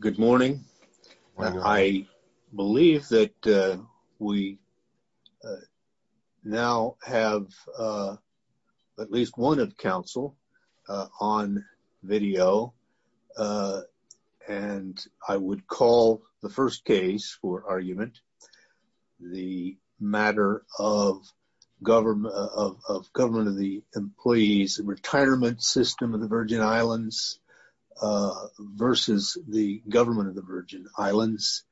Good morning. I believe that we now have at least one of council on video and I would call the first case for argument the matter of government of government of the employees retirement system of the Virgin Islands versus the government of the Virgin Islands.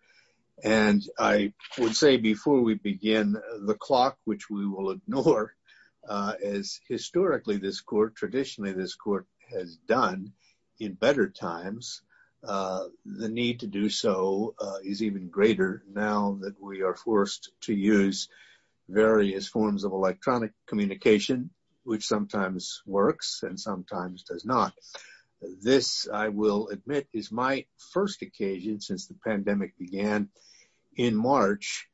And I would say before we begin the clock which we will ignore as historically this court traditionally this court has done in better times. The need to do so is even greater. Now that we are forced to use various forms of electronic communication which sometimes works and sometimes does not. This I will admit is my first occasion since the pandemic began in March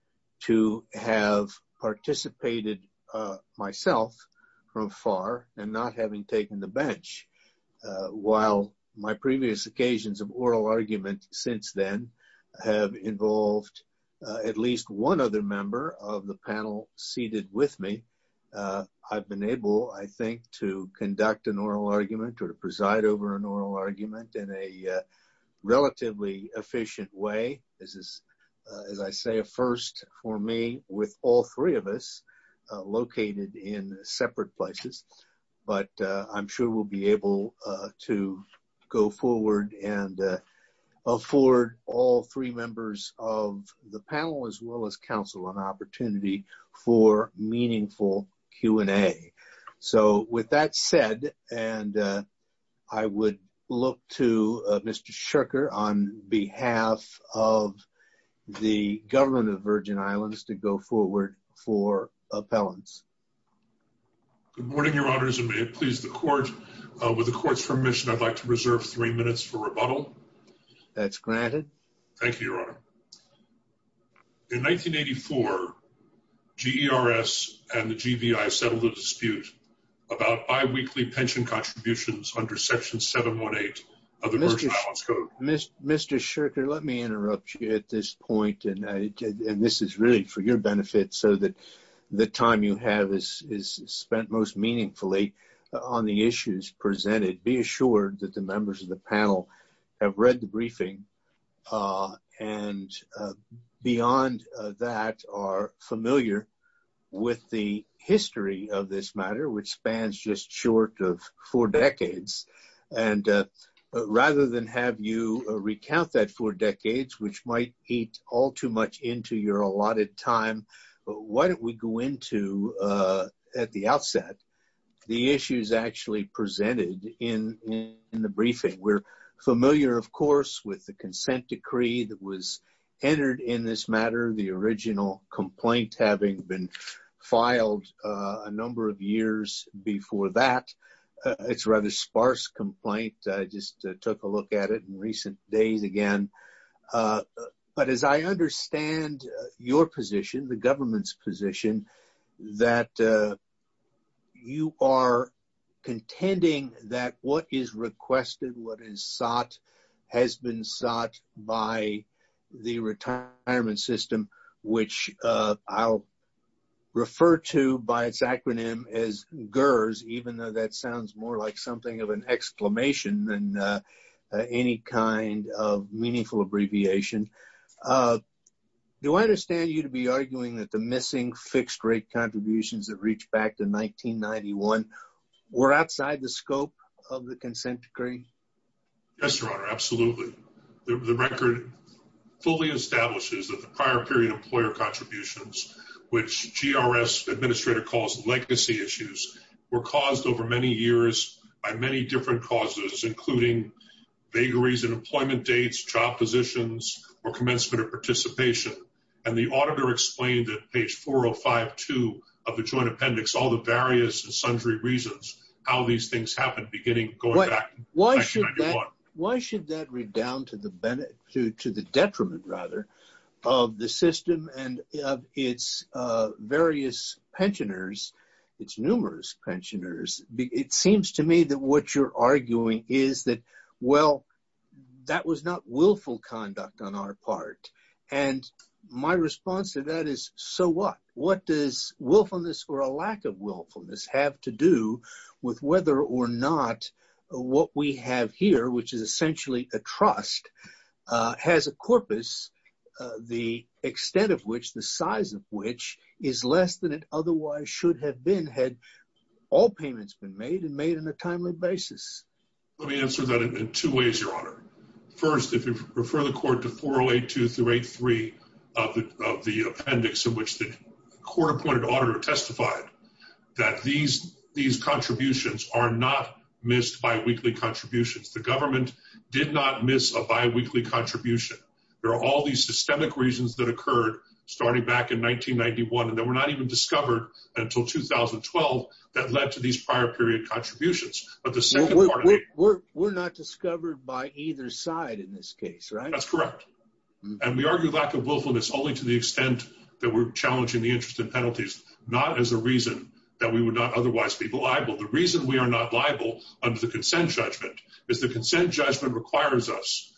to have participated myself from far and not having taken the bench. While my previous occasions of oral argument since then have involved at least one other member of the panel seated with me. I've been able I think to conduct an oral argument or to preside over an oral argument in a relatively efficient way. This is as I say a first for me with all three of us located in separate places. But I'm sure we'll be able to go forward and afford all three members of the panel as well as council an opportunity for meaningful Q&A. So with that said and I would look to Mr. Shirker on behalf of the government of the Virgin Islands to go forward for appellants. Good morning your honors and may it please the court with the court's permission I'd like to reserve three minutes for rebuttal. That's granted. Thank you your honor. In 1984 GERS and the GVI settled a dispute about bi-weekly pension contributions under section 718 of the Virgin Islands Code. Mr. Shirker let me interrupt you at this point. And this is really for your benefit so that the time you have is spent most meaningfully on the issues presented. Be assured that the members of the panel have read the briefing. And beyond that are familiar with the history of this matter which spans just short of four decades. And rather than have you recount that four decades which might eat all too much into your allotted time. Why don't we go into at the outset the issues actually presented in the briefing. We're familiar of course with the consent decree that was entered in this matter the original complaint having been filed a number of years before that. It's rather sparse complaint. I just took a look at it in recent days again. But as I understand your position the government's position that you are contending that what is requested what is sought has been sought by the retirement system which I'll refer to by its acronym as GERS. It sounds more like something of an exclamation than any kind of meaningful abbreviation. Do I understand you to be arguing that the missing fixed rate contributions that reached back to 1991 were outside the scope of the consent decree. Yes, Your Honor. Absolutely. The record fully establishes that the prior period employer contributions which GERS administrator calls legacy issues were caused over many years by many different causes including vagaries and employment dates job positions or commencement of participation. And the auditor explained that page 4052 of the Joint Appendix all the various and sundry reasons how these things happened beginning going back to 1991. Why should that read down to the benefit to the detriment rather of the system and its various pensioners its numerous pensioners. It seems to me that what you're arguing is that well that was not willful conduct on our part. And my response to that is so what what does willfulness or a lack of willfulness have to do with whether or not what we have here which is essentially a trust has a corpus the extent of which the size of which is less than it otherwise should have been had all payments been made and made in a timely basis. Let me answer that in two ways, Your Honor. First, if you refer the court to 408233 of the of the appendix in which the court appointed auditor testified that these these contributions are not missed by weekly contributions, the government did not miss a biweekly contribution. There are all these systemic reasons that occurred starting back in 1991 and they were not even discovered until 2012 that led to these prior period contributions, but the second part of it were were not discovered by either side in this case, right? That's correct. And we argue lack of willfulness only to the extent that we're challenging the interest in penalties not as a reason that we would not otherwise be believable. The reason we are not liable under the consent judgment is the consent judgment requires us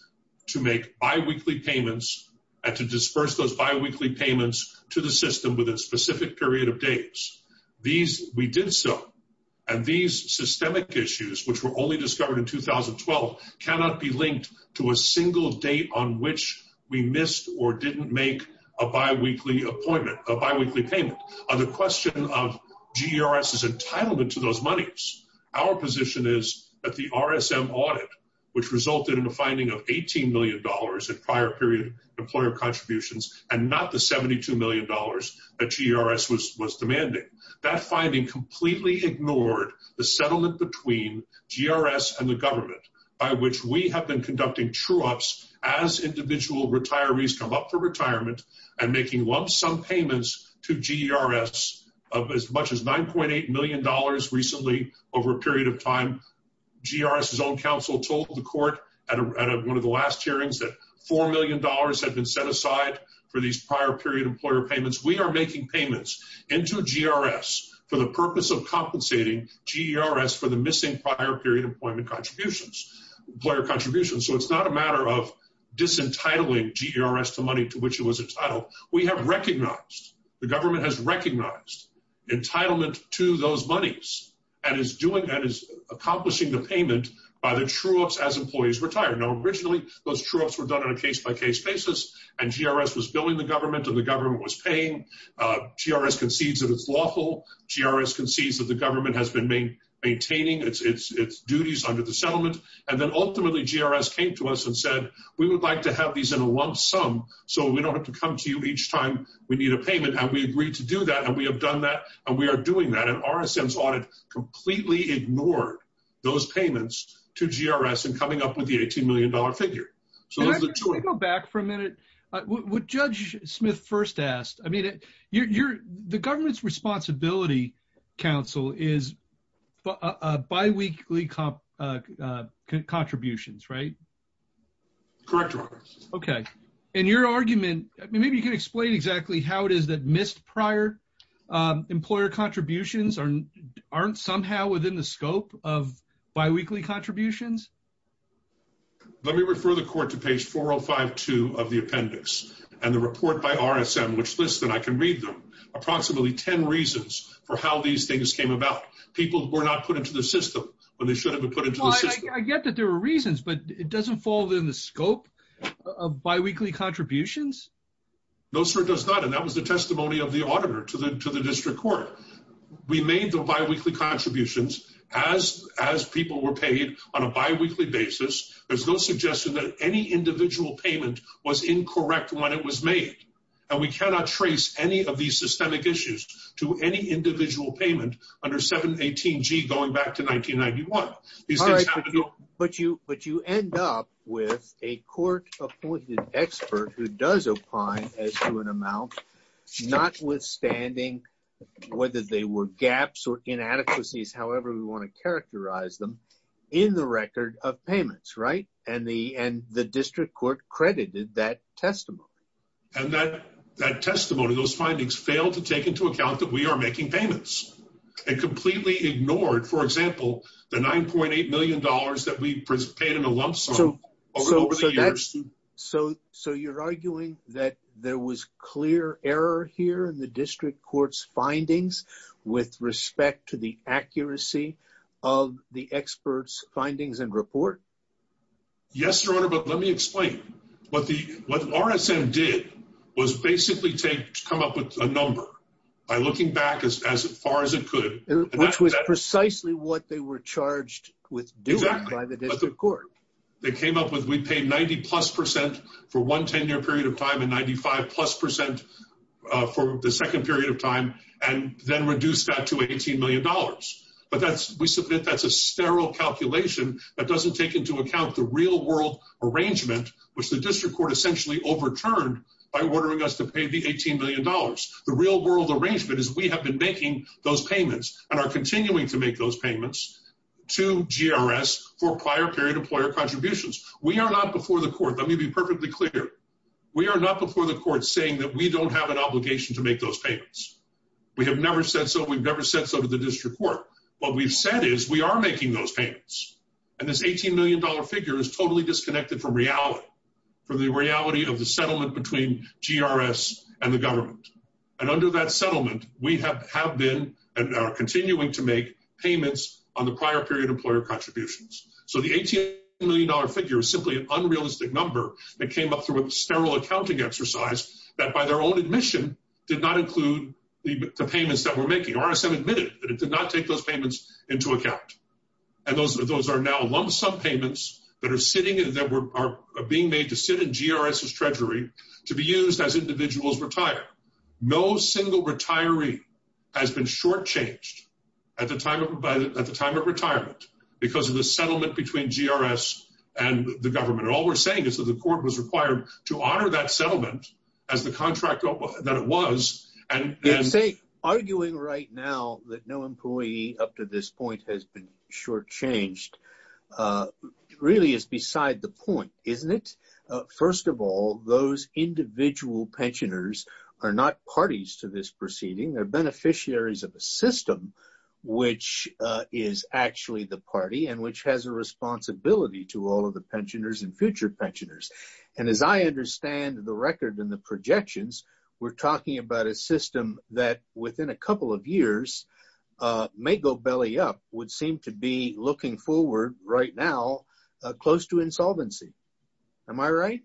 to make biweekly payments and to disperse those biweekly payments to the system with a specific period of days. These we did so and these systemic issues which were only discovered in 2012 cannot be linked to a single date on which we missed or didn't make a biweekly appointment a biweekly payment on the question of GRS is entitlement to those monies. Our position is that the RSM audit which resulted in the finding of $18 million at prior period employer contributions and not the $72 million that GRS was was demanding that finding completely ignored the settlement between GRS and the government by which we have been conducting true ups as individual retirees come up for retirement and making lump sum payments to GRS of as much as $9.8 million. Over a period of time GRS his own counsel told the court at one of the last hearings that $4 million had been set aside for these prior period employer payments. We are making payments into GRS for the purpose of compensating GRS for the missing prior period employment contributions player contributions. So it's not a matter of disentitling GRS to money to which it was entitled. We have recognized the government has recognized entitlement to those monies and is doing that is accomplishing the payment by the true ups as employees retire know originally those troops were done on a case-by-case basis and GRS was building the government of the government was paying GRS concedes that it's lawful GRS concedes that the government has been maintaining its duties under the settlement and then ultimately GRS came to us and said we would like to have these in a lump sum. So we don't have to come to you each time we need a payment and we agreed to do that and we have done that and we are doing that and RSMs audit completely ignored those payments to GRS and coming up with the $18 million figure. So let's go back for a minute. Would judge Smith first asked, I mean, you're the government's Responsibility Council is a bi weekly comp contributions right. Correct. Okay. And your argument, maybe you can explain exactly how it is that missed prior employer contributions are aren't somehow within the scope of bi weekly contributions. Let me refer the court to page 4052 of the appendix and the report by RSM which lists and I can read them approximately 10 reasons for how these things came about people were not put into the system when they should have been put into the system. I get that there were reasons but it doesn't fall within the scope of bi weekly contributions. No, sir, does not. And that was the testimony of the auditor to the to the district court. We made the bi weekly contributions as as people were paid on a bi weekly basis. There's no suggestion that any individual payment was incorrect when it was made. And we cannot trace any of these systemic issues to any individual payment under 718 G going back to 1991. But you but you end up with a court appointed expert who does apply as to an amount, notwithstanding, whether they were gaps or inadequacies. However, we want to characterize them in the record of payments right and the and the district court credited that testimony. And that that testimony those findings fail to take into account that we are making payments and completely ignored. For example, the $9.8 million that we paid in a lump sum. So, so, so you're arguing that there was clear error here in the district courts findings, with respect to the accuracy of the experts findings and report. Yes, your honor. But let me explain what the what RSM did was basically take come up with a number by looking back as far as it could, which was precisely what they were charged with. Arrangement, which the district court essentially overturned by ordering us to pay the $18 million. The real world arrangement is we have been making those payments and are continuing to make those payments to GRS for prior period employer contributions. We are not before the court. Let me be perfectly clear. We are not before the court saying that we don't have an obligation to make those payments. We have never said so. We've never said so to the district court. What we've said is we are making those payments. And this $18 million figure is totally disconnected from reality for the reality of the settlement between GRS and the government. And under that settlement, we have have been and are continuing to make payments on the prior period employer contributions. So the $18 million figure is simply an unrealistic number that came up through a sterile accounting exercise that by their own admission did not include the payments that we're making. RSM admitted that it did not take those payments into account. And those are those are now lump sum payments that are sitting in that were being made to sit in GRS's treasury to be used as individuals retire. No single retiree has been shortchanged at the time of by the time of retirement because of the settlement between GRS and the government. All we're saying is that the court was required to honor that settlement as the contract that it was and say arguing right now that no employee up to this point has been shortchanged really is beside the point, isn't it? First of all, those individual pensioners are not parties to this proceeding. They're beneficiaries of a system which is actually the party and which has a responsibility to all of the pensioners and future pensioners. And as I understand the record and the projections, we're talking about a system that within a couple of years may go belly up would seem to be looking forward right now close to insolvency. Am I right?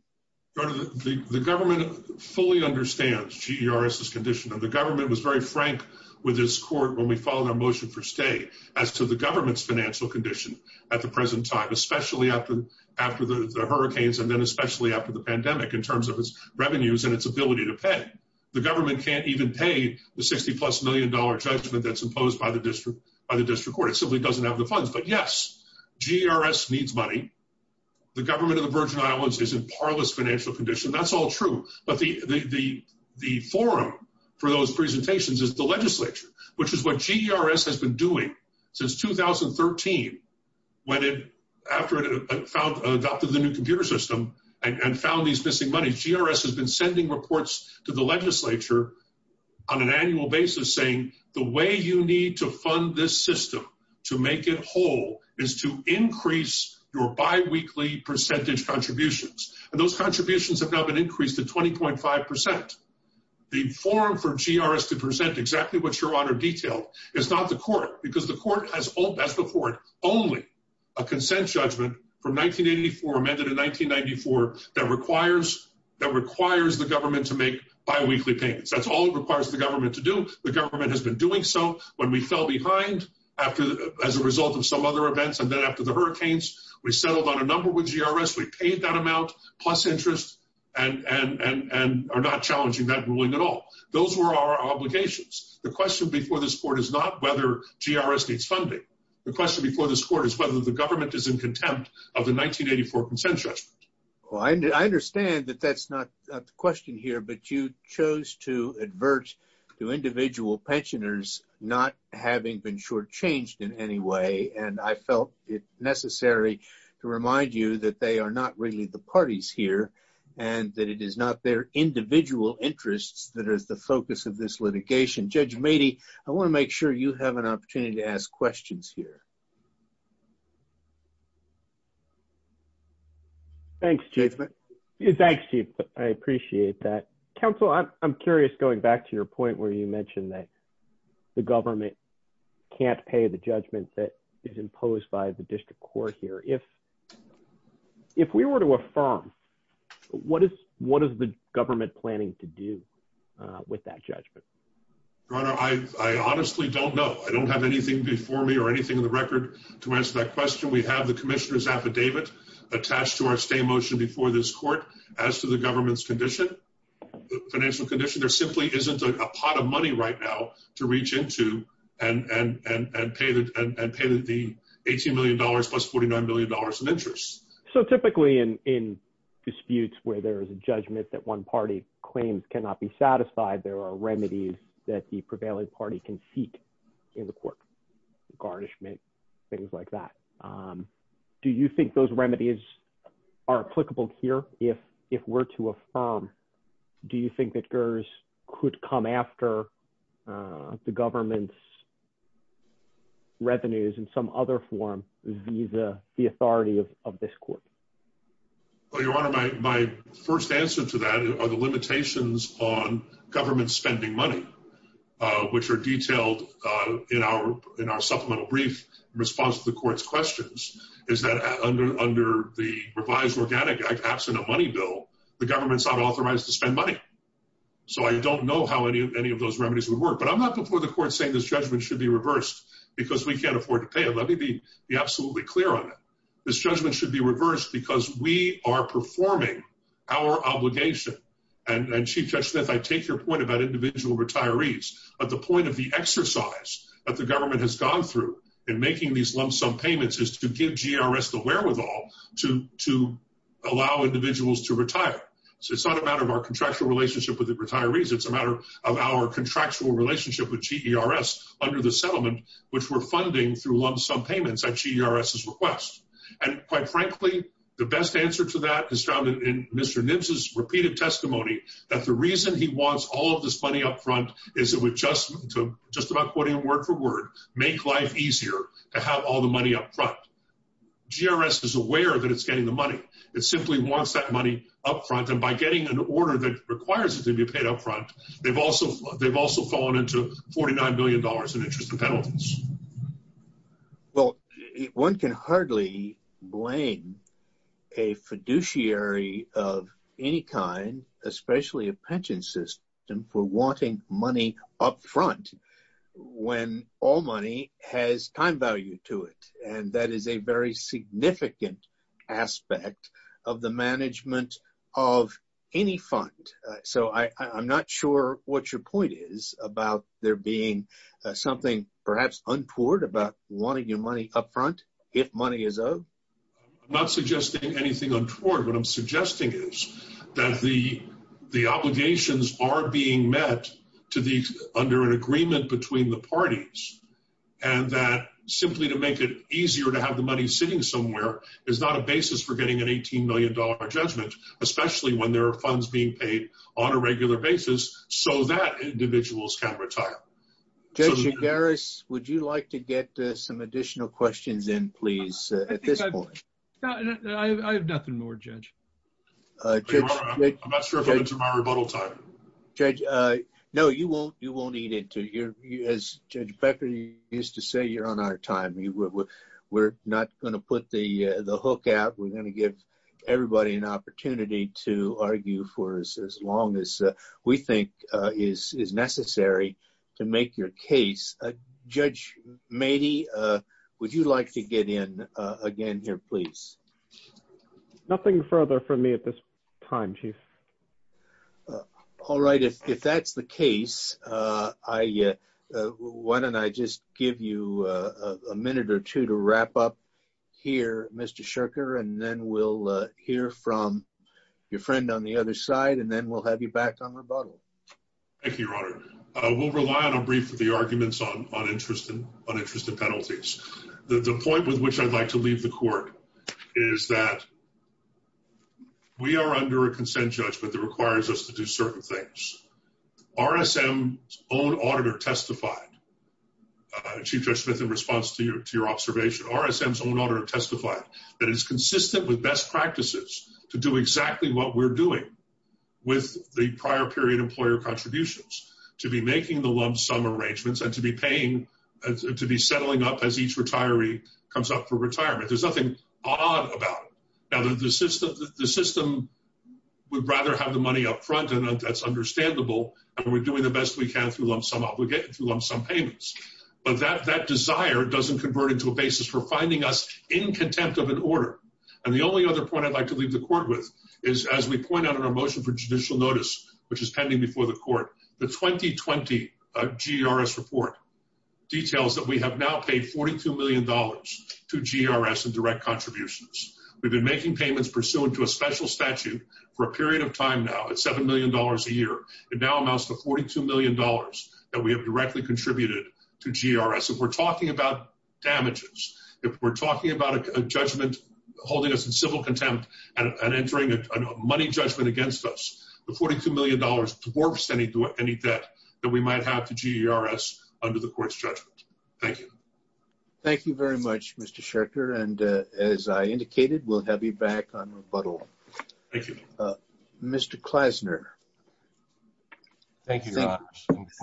The government fully understands GRS's condition of the government was very frank with this court when we follow their motion for stay as to the government's financial condition at the present time, especially after after the hurricanes and then especially after the pandemic in terms of its revenues and its ability to pay the government can't even pay the 60 plus million dollar judgment that's imposed by the district by the district court. But yes, GRS needs money. The government of the Virgin Islands is in parlous financial condition. That's all true. But the the the forum for those presentations is the legislature, which is what GRS has been doing since 2013 when it after it found adopted the new computer system and found these missing money. GRS has been sending reports to the legislature on an annual basis, saying the way you need to fund this system to make it whole is to increase your biweekly percentage contributions. And those contributions have now been increased to 20.5%. The forum for GRS to present exactly what your honor detailed is not the court because the court has all that's the court only a consent judgment from 1984 amended in 1994 that requires that requires the government to make biweekly payments. That's all it requires the government to do. The government has been doing so when we fell behind after as a result of some other events. And then after the hurricanes, we settled on a number with GRS. We paid that amount plus interest and are not challenging that ruling at all. Those were our obligations. The question before this court is not whether GRS needs funding. The question before this court is whether the government is in contempt of the 1984 consent judgment. Well, I understand that that's not the question here, but you chose to advert to individual pensioners not having been shortchanged in any way. And I felt it necessary to remind you that they are not really the parties here and that it is not their individual interests that is the focus of this litigation. Judge Mady, I want to make sure you have an opportunity to ask questions here. Thanks, Chief. I appreciate that. Counsel, I'm curious, going back to your point where you mentioned that the government can't pay the judgment that is imposed by the district court here. If we were to affirm, what is the government planning to do with that judgment? Your Honor, I honestly don't know. I don't have anything before me or anything in the record to answer that question. We have the commissioner's affidavit attached to our stay motion before this court. As to the government's financial condition, there simply isn't a pot of money right now to reach into and pay the $18 million plus $49 million in interest. So typically in disputes where there is a judgment that one party claims cannot be satisfied, there are remedies that the prevailing party can seek in the court. Garnishment, things like that. Do you think those remedies are applicable here? If we're to affirm, do you think that GERS could come after the government's revenues in some other form and be the authority of this court? This judgment should be reversed because we are performing our obligation. And Chief Judge Smith, I take your point about individual retirees. But the point of the exercise that the government has gone through in making these lump sum payments is to give GERS the wherewithal to allow individuals to retire. So it's not a matter of our contractual relationship with the retirees. It's a matter of our contractual relationship with GERS under the settlement, which we're funding through lump sum payments at GERS' request. And quite frankly, the best answer to that is found in Mr. Nimtz's repeated testimony that the reason he wants all of this money up front is it would just to, just about quoting him word for word, make life easier to have all the money up front. GERS is aware that it's getting the money. It simply wants that money up front. And by getting an order that requires it to be paid up front, they've also fallen into $49 million in interest and penalties. Well, one can hardly blame a fiduciary of any kind, especially a pension system, for wanting money up front when all money has time value to it. And that is a very significant aspect of the management of any fund. So I'm not sure what your point is about there being something perhaps untoward about wanting your money up front if money is owed. I'm not suggesting anything untoward. What I'm suggesting is that the obligations are being met under an agreement between the parties and that simply to make it easier to have the money sitting somewhere is not a basis for getting an $18 million judgment, especially when there are funds being paid on a regular basis so that individuals can retire. Judge Gers, would you like to get some additional questions in, please, at this point? I have nothing more, Judge. I'm not struggling to get to my rebuttal time. Judge, no, you won't need it. As Judge Becker used to say, you're on our time. We're not going to put the hook out. We're going to give everybody an opportunity to argue for as long as we think is necessary to make your case. Judge Mady, would you like to get in again here, please? Nothing further from me at this time, Chief. All right. If that's the case, why don't I just give you a minute or two to wrap up here, Mr. Shirker, and then we'll hear from your friend on the other side, and then we'll have you back on rebuttal. Thank you, Your Honor. We'll rely on a brief of the arguments on interest and penalties. The point with which I'd like to leave the court is that we are under a consent judgment that requires us to do certain things. RSM's own auditor testified, Chief Judge Smith, in response to your observation, RSM's own auditor testified that it's consistent with best practices to do exactly what we're doing with the prior period employer contributions, to be making the lump sum arrangements and to be settling up as each retiree comes up for retirement. There's nothing odd about it. Now, the system would rather have the money up front, and that's understandable, and we're doing the best we can through lump sum payments. But that desire doesn't convert into a basis for finding us in contempt of an order. And the only other point I'd like to leave the court with is, as we point out in our motion for judicial notice, which is pending before the court, the 2020 GRS report details that we have now paid $42 million to GRS in direct contributions. We've been making payments pursuant to a special statute for a period of time now at $7 million a year. It now amounts to $42 million that we have directly contributed to GRS. If we're talking about damages, if we're talking about a judgment holding us in civil contempt and entering a money judgment against us, the $42 million dwarfs any debt that we might have to GRS under the court's judgment. Thank you. Thank you very much, Mr. Schertger. And as I indicated, we'll have you back on rebuttal. Thank you. Mr. Klasner. Thank you, Your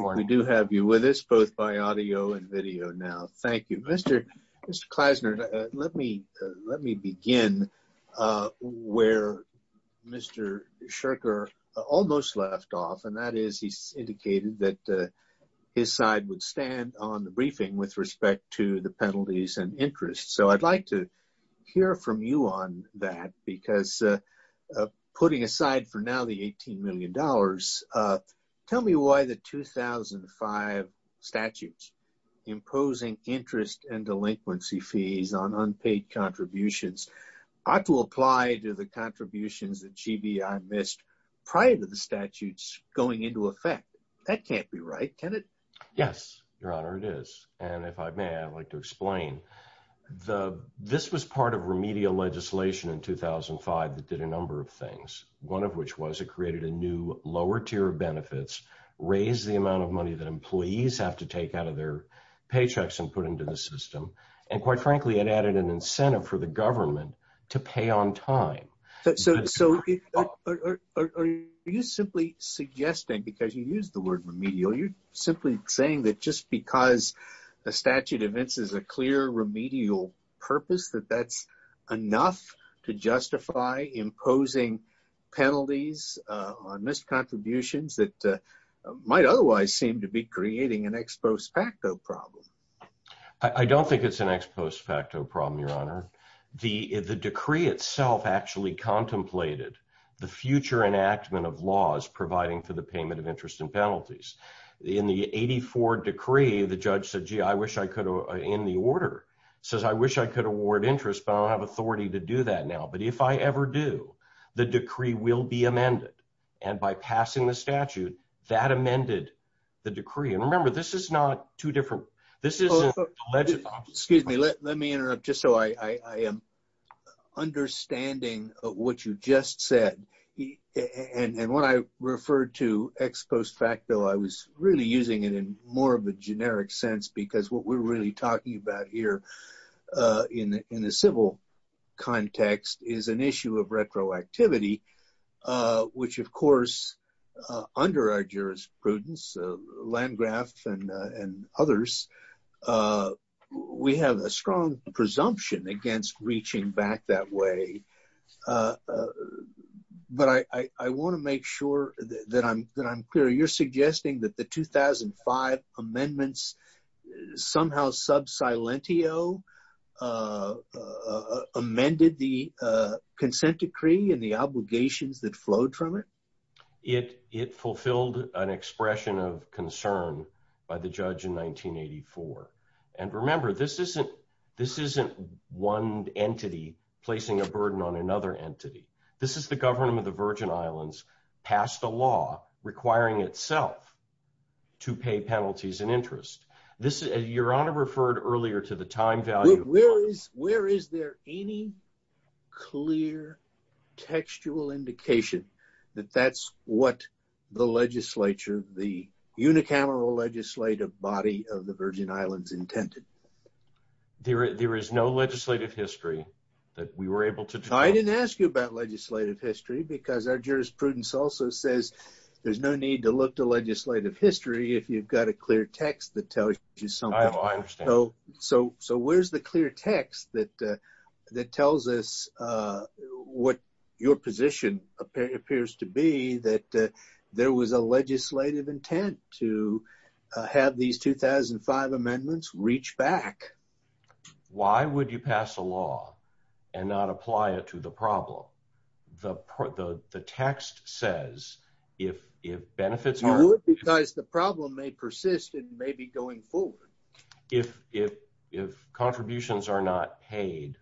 Honor. We do have you with us, both by audio and video now. Thank you. Mr. Klasner, let me begin where Mr. Schertger almost left off, and that is he's indicated that his side would stand on the briefing with respect to the penalties and interest. So I'd like to hear from you on that, because putting aside for now the $18 million, tell me why the 2005 statutes imposing interest and delinquency fees on unpaid contributions ought to apply to the contributions that GBI missed prior to the statutes going into effect. That can't be right, can it? Yes, Your Honor, it is. And if I may, I'd like to explain. This was part of remedial legislation in 2005 that did a number of things, one of which was it created a new lower tier of benefits, raised the amount of money that employees have to take out of their paychecks and put into the system, and quite frankly, it added an incentive for the government to pay on time. So are you simply suggesting, because you used the word remedial, you're simply saying that just because a statute evinces a clear remedial purpose, that that's enough to justify imposing penalties on missed contributions that might otherwise seem to be creating an ex post facto problem? I don't think it's an ex post facto problem, Your Honor. The decree itself actually contemplated the future enactment of laws providing for the payment of interest and penalties. In the 84 decree, the judge said, gee, I wish I could, in the order, says, I wish I could award interest, but I don't have authority to do that now. But if I ever do, the decree will be amended. And by passing the statute, that amended the decree. And remember, this is not too different. Excuse me. Let me interrupt just so I am understanding what you just said. And when I referred to ex post facto, I was really using it in more of a generic sense, because what we're really talking about here in the civil context is an issue of retroactivity, which, of course, under our jurisprudence, Landgraf and others, we have a strong presumption against reaching back that way. But I want to make sure that I'm clear. You're suggesting that the 2005 amendments somehow sub silentio amended the consent decree and the obligations that flowed from it? It fulfilled an expression of concern by the judge in 1984. And remember, this isn't one entity placing a burden on another entity. This is the government of the Virgin Islands passed a law requiring itself to pay penalties and interest. Your Honor referred earlier to the time value. Where is there any clear textual indication that that's what the legislature, the unicameral legislative body of the Virgin Islands intended? There is no legislative history that we were able to. I didn't ask you about legislative history because our jurisprudence also says there's no need to look to legislative history if you've got a clear text that tells you something. I understand. So so where's the clear text that that tells us what your position appears to be that there was a legislative intent to have these 2005 amendments reach back? Why would you pass a law and not apply it to the problem? The text says if if benefits are because the problem may persist and may be going forward, if if contributions are not paid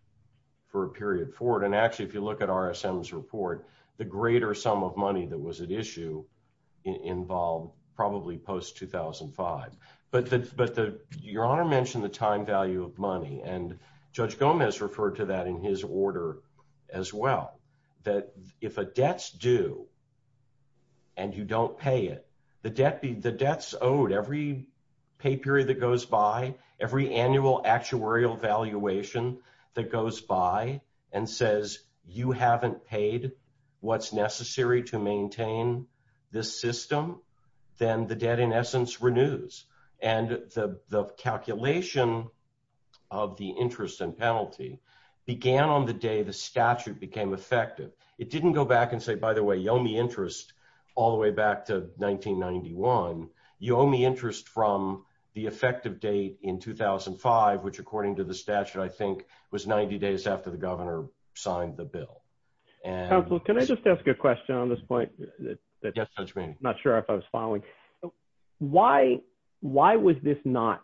for a period forward. And actually, if you look at RSM's report, the greater sum of money that was at issue involved probably post 2005. But but your honor mentioned the time value of money. And Judge Gomez referred to that in his order as well, that if a debt's due. And you don't pay it, the debt be the debts owed every pay period that goes by every annual actuarial valuation that goes by and says you haven't paid what's necessary to maintain this system, then the debt, in essence, renews. And the calculation of the interest and penalty began on the day the statute became effective. It didn't go back and say, by the way, you owe me interest all the way back to 1991. You owe me interest from the effective date in 2005, which, according to the statute, I think was 90 days after the governor signed the bill. Well, can I just ask a question on this point? I'm not sure if I was following. Why why was this not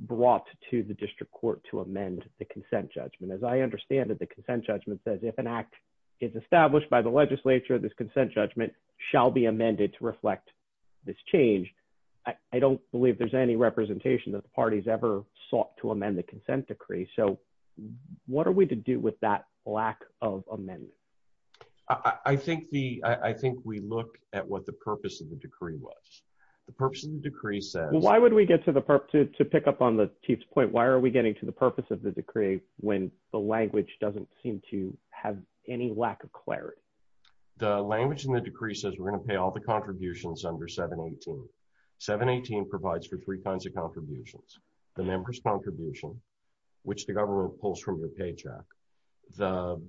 brought to the district court to amend the consent judgment? As I understand it, the consent judgment says if an act is established by the legislature, this consent judgment shall be amended to reflect this change. I don't believe there's any representation that the party's ever sought to amend the consent decree. So what are we to do with that lack of amendment? I think the I think we look at what the purpose of the decree was. The purpose of the decree says, why would we get to the purpose to pick up on the chief's point? Why are we getting to the purpose of the decree when the language doesn't seem to have any lack of clarity? The language in the decree says we're going to pay all the contributions under 718. 718 provides for three kinds of contributions. The members contribution, which the government pulls from the paycheck, the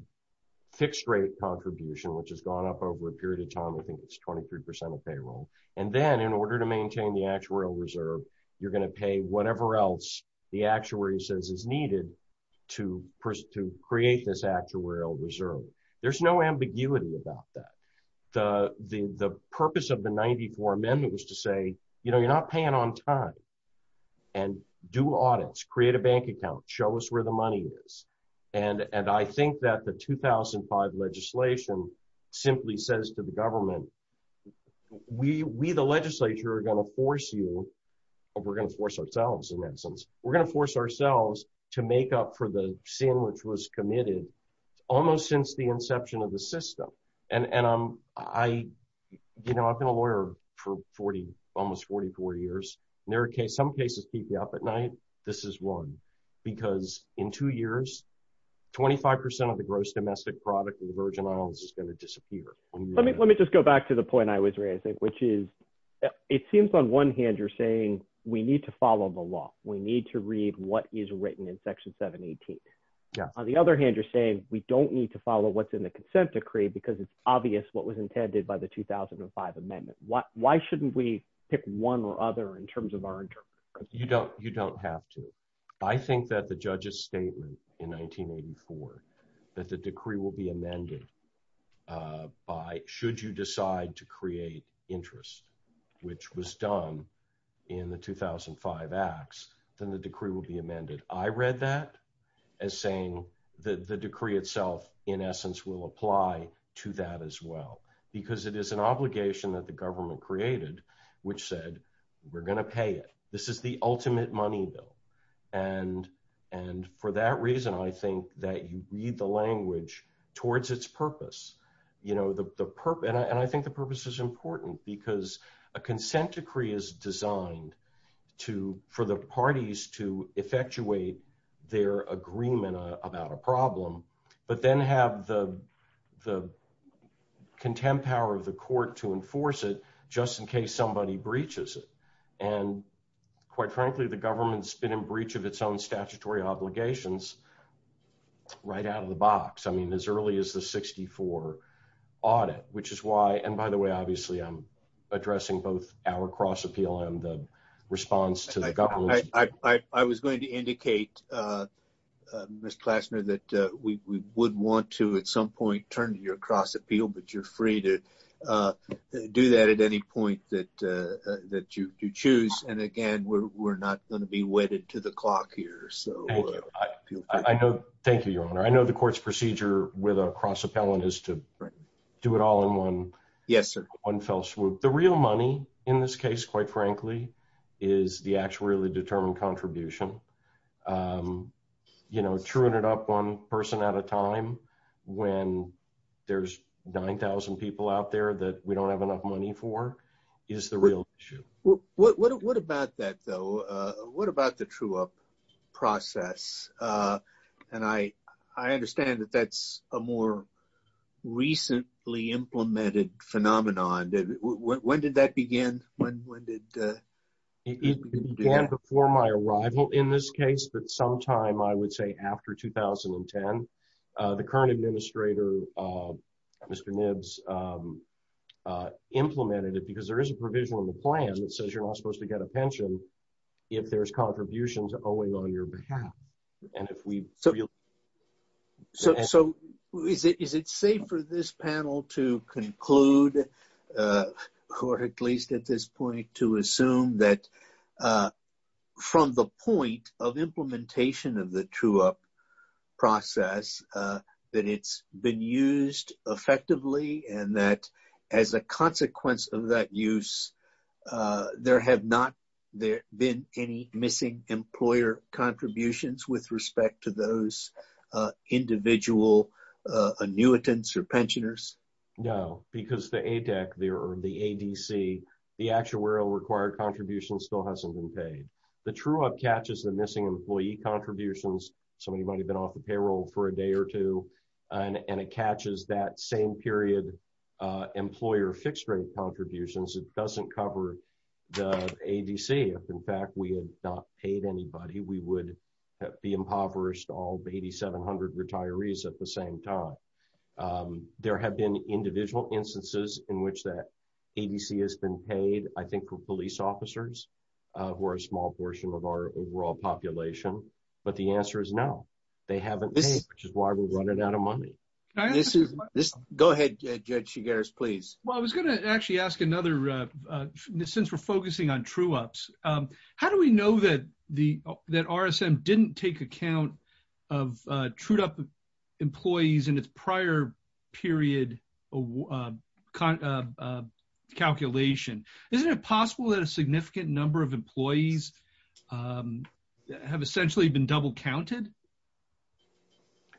fixed rate contribution, which has gone up over a period of time. I think it's 23 percent of payroll. And then in order to maintain the actuarial reserve, you're going to pay whatever else the actuary says is needed to to create this actuarial reserve. There's no ambiguity about that. The the purpose of the 94 amendment was to say, you know, you're not paying on time and do audits, create a bank account, show us where the money is. And and I think that the 2005 legislation simply says to the government, we the legislature are going to force you. We're going to force ourselves, in that sense, we're going to force ourselves to make up for the sin which was committed almost since the inception of the system. And I, you know, I've been a lawyer for 40, almost 44 years. There are some cases keep you up at night. This is one, because in two years, 25 percent of the gross domestic product of the Virgin Islands is going to disappear. Let me let me just go back to the point I was raising, which is, it seems on one hand, you're saying we need to follow the law. We need to read what is written in Section 718. On the other hand, you're saying we don't need to follow what's in the consent decree because it's obvious what was intended by the 2005 amendment. Why shouldn't we pick one or other in terms of our. You don't you don't have to. I think that the judges statement in 1984 that the decree will be amended by should you decide to create interest, which was done in the 2005 acts, then the decree will be amended. I read that as saying that the decree itself, in essence, will apply to that as well, because it is an obligation that the government created, which said we're going to pay it. This is the ultimate money bill. And and for that reason, I think that you read the language towards its purpose. You know, the purpose and I think the purpose is important because a consent decree is designed to for the parties to effectuate their agreement about a problem, but then have the the contempt power of the court to enforce it just in case somebody breaches it. And quite frankly, the government's been in breach of its own statutory obligations right out of the box. I mean, as early as the 64 audit, which is why and by the way, obviously, I'm addressing both our cross appeal and the response to the government. I was going to indicate, Mr. Klassner, that we would want to at some point turn to your cross appeal, but you're free to do that at any point that that you choose. And again, we're not going to be wedded to the clock here. So I know. Thank you, Your Honor. I know the court's procedure with a cross appellant is to do it all in one. Yes, sir. One fell swoop. The real money in this case, quite frankly, is the actually determined contribution. You know, turn it up one person at a time when there's nine thousand people out there that we don't have enough money for is the real issue. What about that, though? What about the true up process? And I I understand that that's a more recently implemented phenomenon. When did that begin? When did it began before my arrival in this case? But sometime I would say after 2010, the current administrator, Mr. Nibbs, implemented it because there is a provision in the plan that says you're not supposed to get a pension if there's contribution to owing on your behalf. And if we so. So is it safe for this panel to conclude court, at least at this point, to assume that from the point of implementation of the true up process, that it's been used effectively and that as a consequence of that use, there have not been any missing employer contributions with respect to those individual annuitants or pensioners? No, because the ADEC or the ADC, the actuarial required contributions still hasn't been paid. The true up catches the missing employee contributions. Somebody might have been off the payroll for a day or two and it catches that same period employer fixed rate contributions. It doesn't cover the ADC. In fact, we had not paid anybody. We would be impoverished, all 8,700 retirees at the same time. There have been individual instances in which that ADC has been paid, I think, for police officers who are a small portion of our overall population. But the answer is no, they haven't paid, which is why we're running out of money. Go ahead, Judge Chigares, please. Well, I was going to actually ask another, since we're focusing on true ups, how do we know that RSM didn't take account of true up employees in its prior period calculation? Isn't it possible that a significant number of employees have essentially been double counted?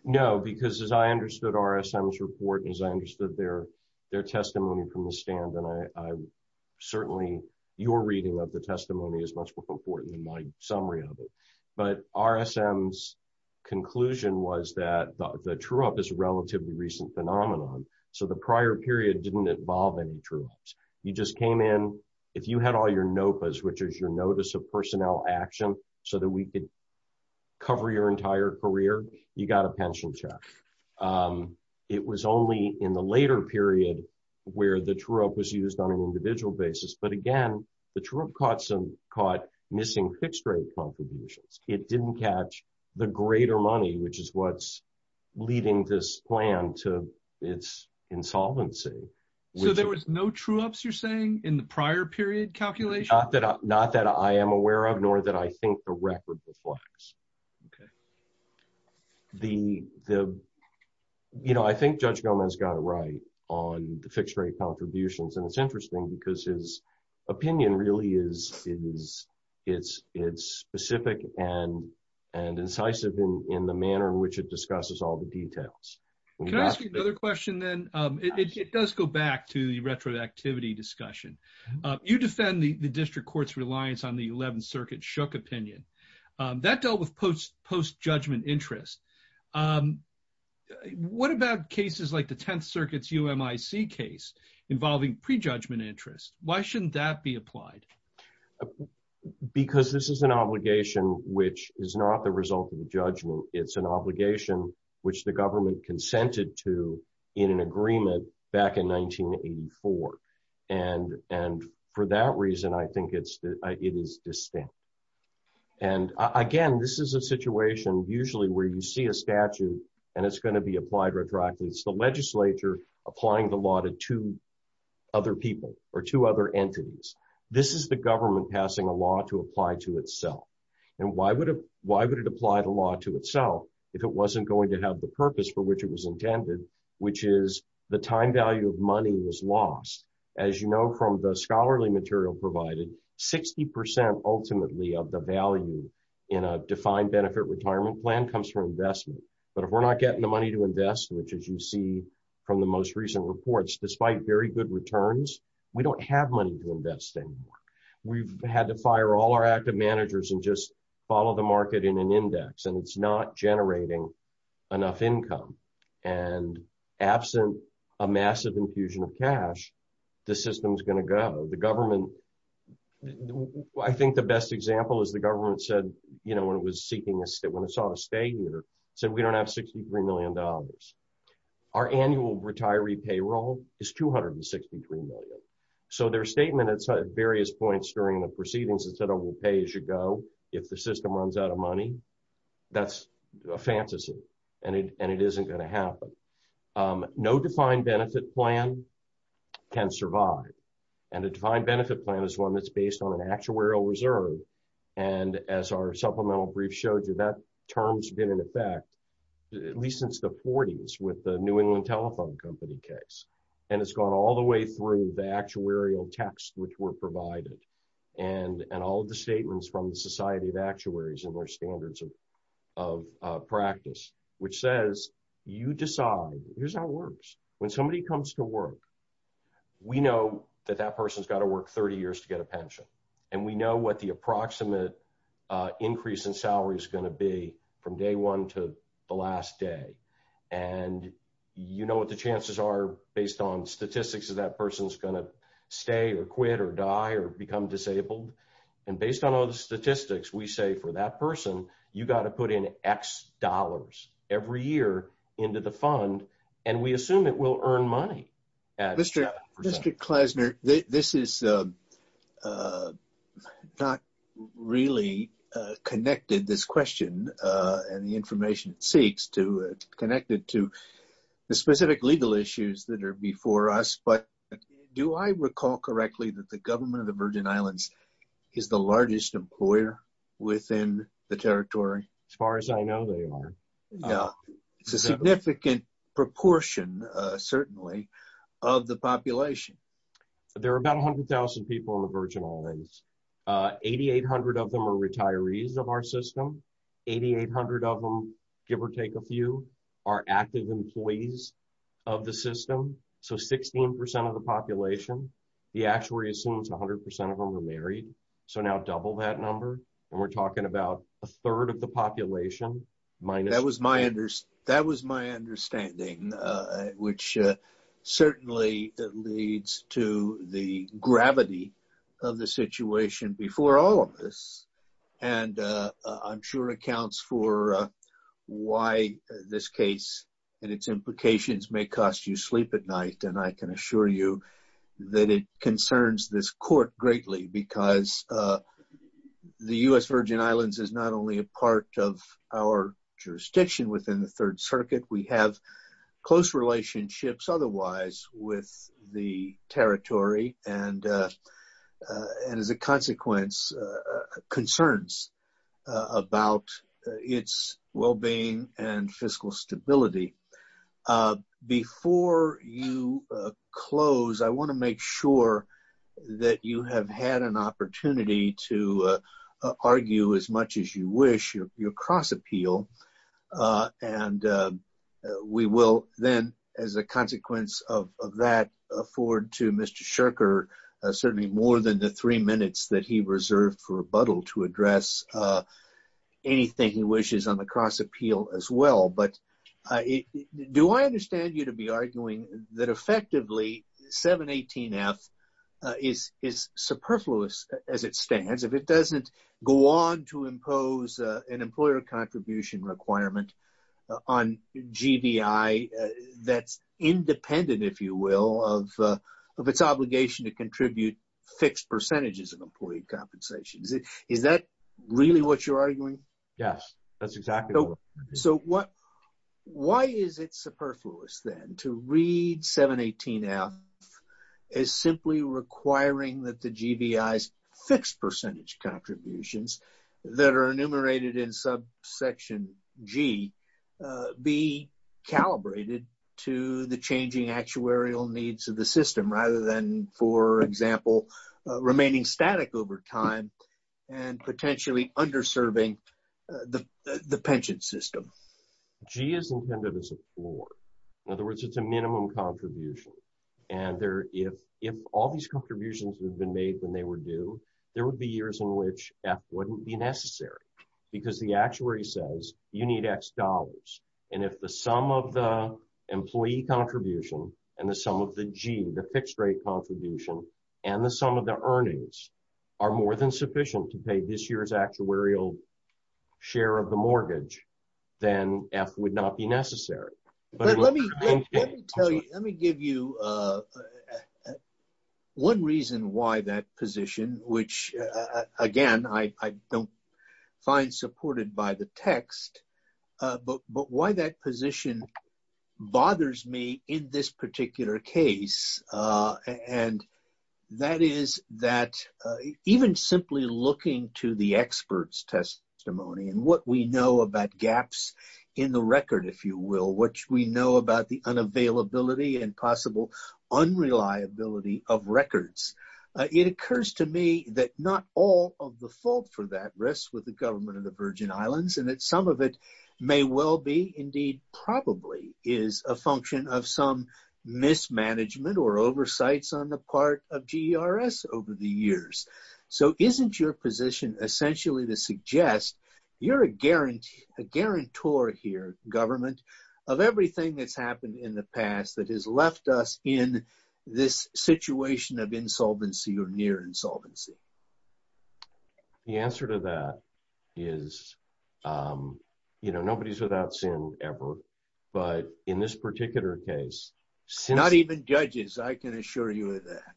No, because as I understood RSM's report, as I understood their testimony from the stand, and certainly your reading of the testimony is much more important than my summary of it. But RSM's conclusion was that the true up is a relatively recent phenomenon, so the prior period didn't involve any true ups. You just came in, if you had all your NOPAs, which is your Notice of Personnel Action, so that we could cover your entire career, you got a pension check. It was only in the later period where the true up was used on an individual basis, but again, the true up caught missing fixed rate contributions. It didn't catch the greater money, which is what's leading this plan to its insolvency. So there was no true ups, you're saying, in the prior period calculation? Not that I am aware of, nor that I think the record reflects. Okay. I think Judge Gomez got it right on the fixed rate contributions, and it's interesting because his opinion really is specific and incisive in the manner in which it discusses all the details. Can I ask you another question, then? It does go back to the retroactivity discussion. You defend the district court's reliance on the 11th Circuit's Shook opinion. That dealt with post-judgment interest. What about cases like the 10th Circuit's UMIC case involving prejudgment interest? Why shouldn't that be applied? Because this is an obligation which is not the result of the judgment. It's an obligation which the government consented to in an agreement back in 1984. And for that reason, I think it is distinct. And again, this is a situation usually where you see a statute and it's going to be applied retroactively. It's the legislature applying the law to two other people or two other entities. This is the government passing a law to apply to itself. And why would it apply the law to itself if it wasn't going to have the purpose for which it was intended, which is the time value of money was lost? As you know from the scholarly material provided, 60% ultimately of the value in a defined benefit retirement plan comes from investment. But if we're not getting the money to invest, which as you see from the most recent reports, despite very good returns, we don't have money to invest anymore. We've had to fire all our active managers and just follow the market in an index. And it's not generating enough income. And absent a massive infusion of cash, the system is going to go. The government, I think the best example is the government said, you know, when it was seeking us that when it's on a stay here, said we don't have $63 million. Our annual retiree payroll is $263 million. So their statement at various points during the proceedings is that I will pay as you go. If the system runs out of money, that's a fantasy. And it isn't going to happen. No defined benefit plan can survive. And a defined benefit plan is one that's based on an actuarial reserve. And as our supplemental brief showed you, that term's been in effect at least since the 40s with the New England Telephone Company case. And it's gone all the way through the actuarial text, which were provided. And all of the statements from the Society of Actuaries and their standards of practice, which says you decide. Here's how it works. When somebody comes to work, we know that that person's got to work 30 years to get a pension. And we know what the approximate increase in salary is going to be from day one to the last day. And you know what the chances are based on statistics that that person's going to stay or quit or die or become disabled. And based on all the statistics, we say for that person, you've got to put in X dollars every year into the fund. And we assume it will earn money. Mr. Klesner, this is not really connected, this question, and the information it seeks to connect it to the specific legal issues that are before us. But do I recall correctly that the government of the Virgin Islands is the largest employer within the territory? As far as I know, they are. It's a significant proportion, certainly, of the population. There are about 100,000 people in the Virgin Islands. 8,800 of them are retirees of our system. 8,800 of them, give or take a few, are active employees of the system. So 16% of the population. The actuary assumes 100% of them are married. So now double that number. And we're talking about a third of the population. That was my understanding, which certainly leads to the gravity of the situation before all of this. And I'm sure accounts for why this case and its implications may cost you sleep at night. And I can assure you that it concerns this court greatly because the U.S. Virgin Islands is not only a part of our jurisdiction within the Third Circuit. We have close relationships otherwise with the territory. And as a consequence, concerns about its well-being and fiscal stability. Before you close, I want to make sure that you have had an opportunity to argue as much as you wish your cross-appeal. And we will then, as a consequence of that, forward to Mr. Scherker certainly more than the three minutes that he reserved for rebuttal to address anything he wishes on the cross-appeal as well. But do I understand you to be arguing that effectively 718F is superfluous as it stands, if it doesn't go on to impose an employer contribution requirement on GDI that's independent, if you will, of its obligation to contribute fixed percentages of employee compensations? Is that really what you're arguing? Yes, that's exactly right. So why is it superfluous then to read 718F as simply requiring that the GDI's fixed percentage contributions that are enumerated in subsection G be calibrated to the changing actuarial needs of the system rather than, for example, remaining static over time and potentially underserving the pension system? G is intended as a floor. In other words, it's a minimum contribution. And if all these contributions had been made when they were due, there would be years in which F wouldn't be necessary because the actuary says you need X dollars. And if the sum of the employee contribution and the sum of the G, the fixed rate contribution, and the sum of the earnings are more than sufficient to pay this year's actuarial share of the mortgage, then F would not be necessary. Let me give you one reason why that position, which, again, I don't find supported by the text, but why that position bothers me in this particular case, and that is that even simply looking to the experts' testimony and what we know about gaps in the record, if you will, what we know about the unavailability and possible unreliability of records, it occurs to me that not all of the fault for that rests with the government of the Virgin Islands and that some of it may well be indeed probably is a function of some mismanagement or oversights on the part of GERS over the years. So isn't your position essentially to suggest you're a guarantor here, government, of everything that's happened in the past that has left us in this situation of insolvency or near insolvency? The answer to that is, you know, nobody's without sin ever. But in this particular case... Not even judges, I can assure you of that.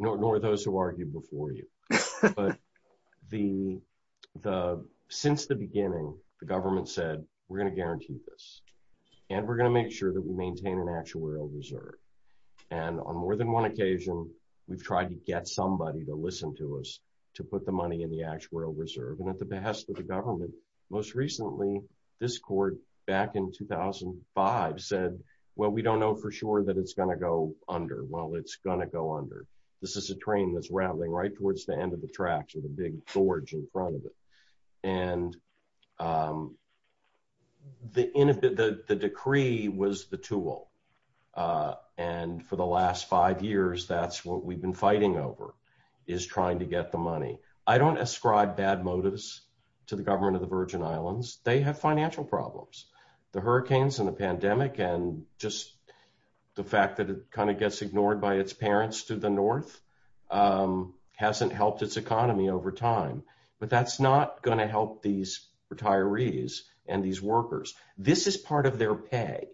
Nor those who argued before you. But since the beginning, the government said, we're going to guarantee this, and we're going to make sure that we maintain an actuarial reserve. And on more than one occasion, we've tried to get somebody to listen to us to put the money in the actuarial reserve. And at the behest of the government, most recently, this court back in 2005 said, well, we don't know for sure that it's going to go under. Well, it's going to go under. This is a train that's rambling right towards the end of the tracks with a big gorge in front of it. And the decree was the tool. And for the last five years, that's what we've been fighting over, is trying to get the money. I don't ascribe bad motives to the government of the Virgin Islands. They have financial problems. The hurricanes and the pandemic and just the fact that it kind of gets ignored by its parents to the north hasn't helped its economy over time. But that's not going to help these retirees and these workers. This is part of their pay.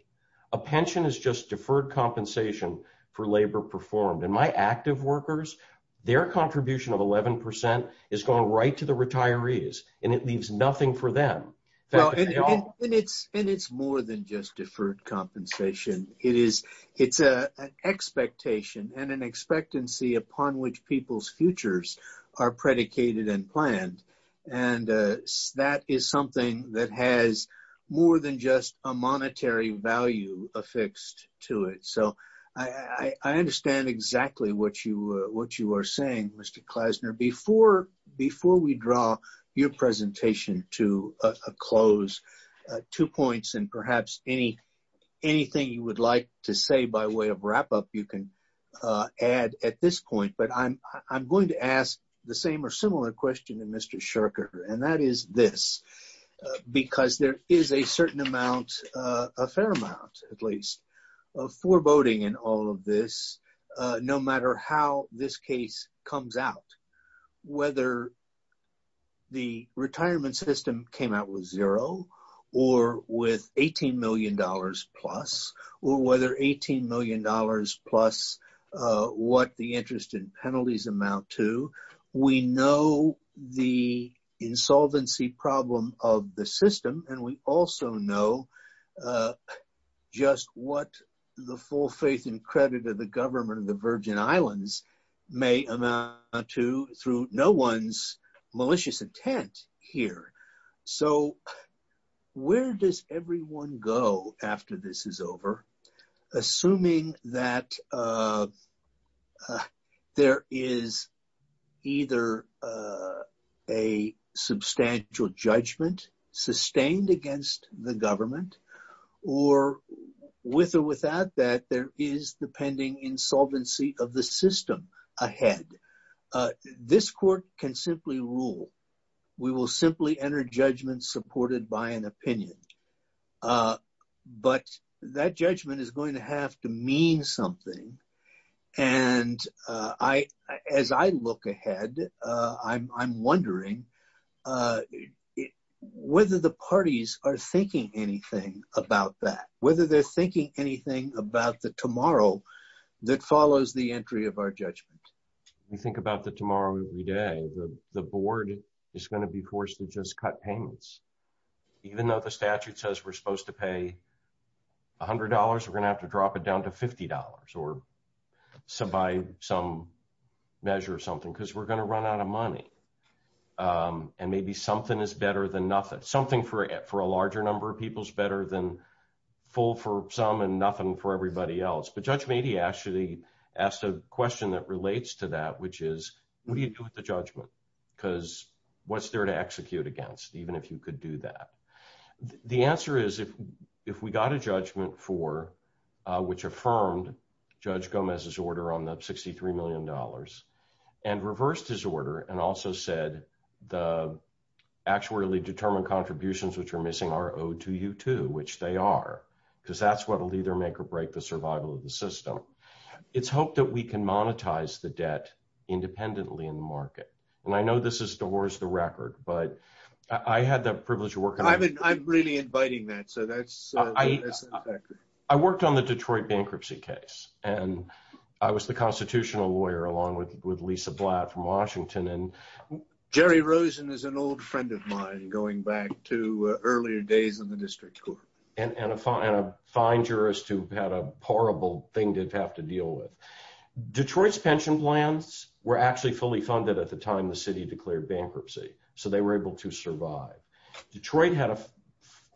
A pension is just deferred compensation for labor performed. And my active workers, their contribution of 11% is going right to the retirees, and it leaves nothing for them. And it's more than just deferred compensation. It's an expectation and an expectancy upon which people's futures are predicated and planned. And that is something that has more than just a monetary value affixed to it. So I understand exactly what you are saying, Mr. Klasner. Before we draw your presentation to a close, two points and perhaps anything you would like to say by way of wrap-up you can add at this point. But I'm going to ask the same or similar question to Mr. Shurker, and that is this. Because there is a certain amount, a fair amount at least, of foreboding in all of this, no matter how this case comes out. Whether the retirement system came out with zero or with $18 million-plus, or whether $18 million-plus, what the interest and penalties amount to, we know the insolvency problem of the system. And we also know just what the full faith and credit of the government of the Virgin Islands may amount to through no one's malicious intent here. So where does everyone go after this is over, assuming that there is either a substantial judgment sustained against the government, or with or without that, there is the pending insolvency of the system ahead? This court can simply rule. We will simply enter judgment supported by an opinion. But that judgment is going to have to mean something. And as I look ahead, I'm wondering whether the parties are thinking anything about that, whether they're thinking anything about the tomorrow that follows the entry of our judgment. We think about the tomorrow every day. The board is going to be forced to just cut payments. Even though the statute says we're supposed to pay $100, we're going to have to drop it down to $50 or by some measure or something, because we're going to run out of money. And maybe something is better than nothing. Something for a larger number of people is better than full for some and nothing for everybody else. But Judge Mady actually asked a question that relates to that, which is, what do you do with the judgment? Because what's there to execute against, even if you could do that? The answer is if we got a judgment for which affirmed Judge Gomez's order on the $63 million and reversed his order and also said the actually determined contributions which are missing are owed to you too, which they are, because that's what will either make or break the survival of the system. It's hoped that we can monetize the debt independently in the market. And I know this is divorce the record, but I had the privilege of working on it. I'm really inviting that, so that's effective. I worked on the Detroit bankruptcy case, and I was the constitutional lawyer along with Lisa Blatt from Washington. And Jerry Rosen is an old friend of mine going back to earlier days in the district court. And a fine jurist who had a horrible thing to have to deal with. Detroit's pension plans were actually fully funded at the time the city declared bankruptcy, so they were able to survive. Detroit had a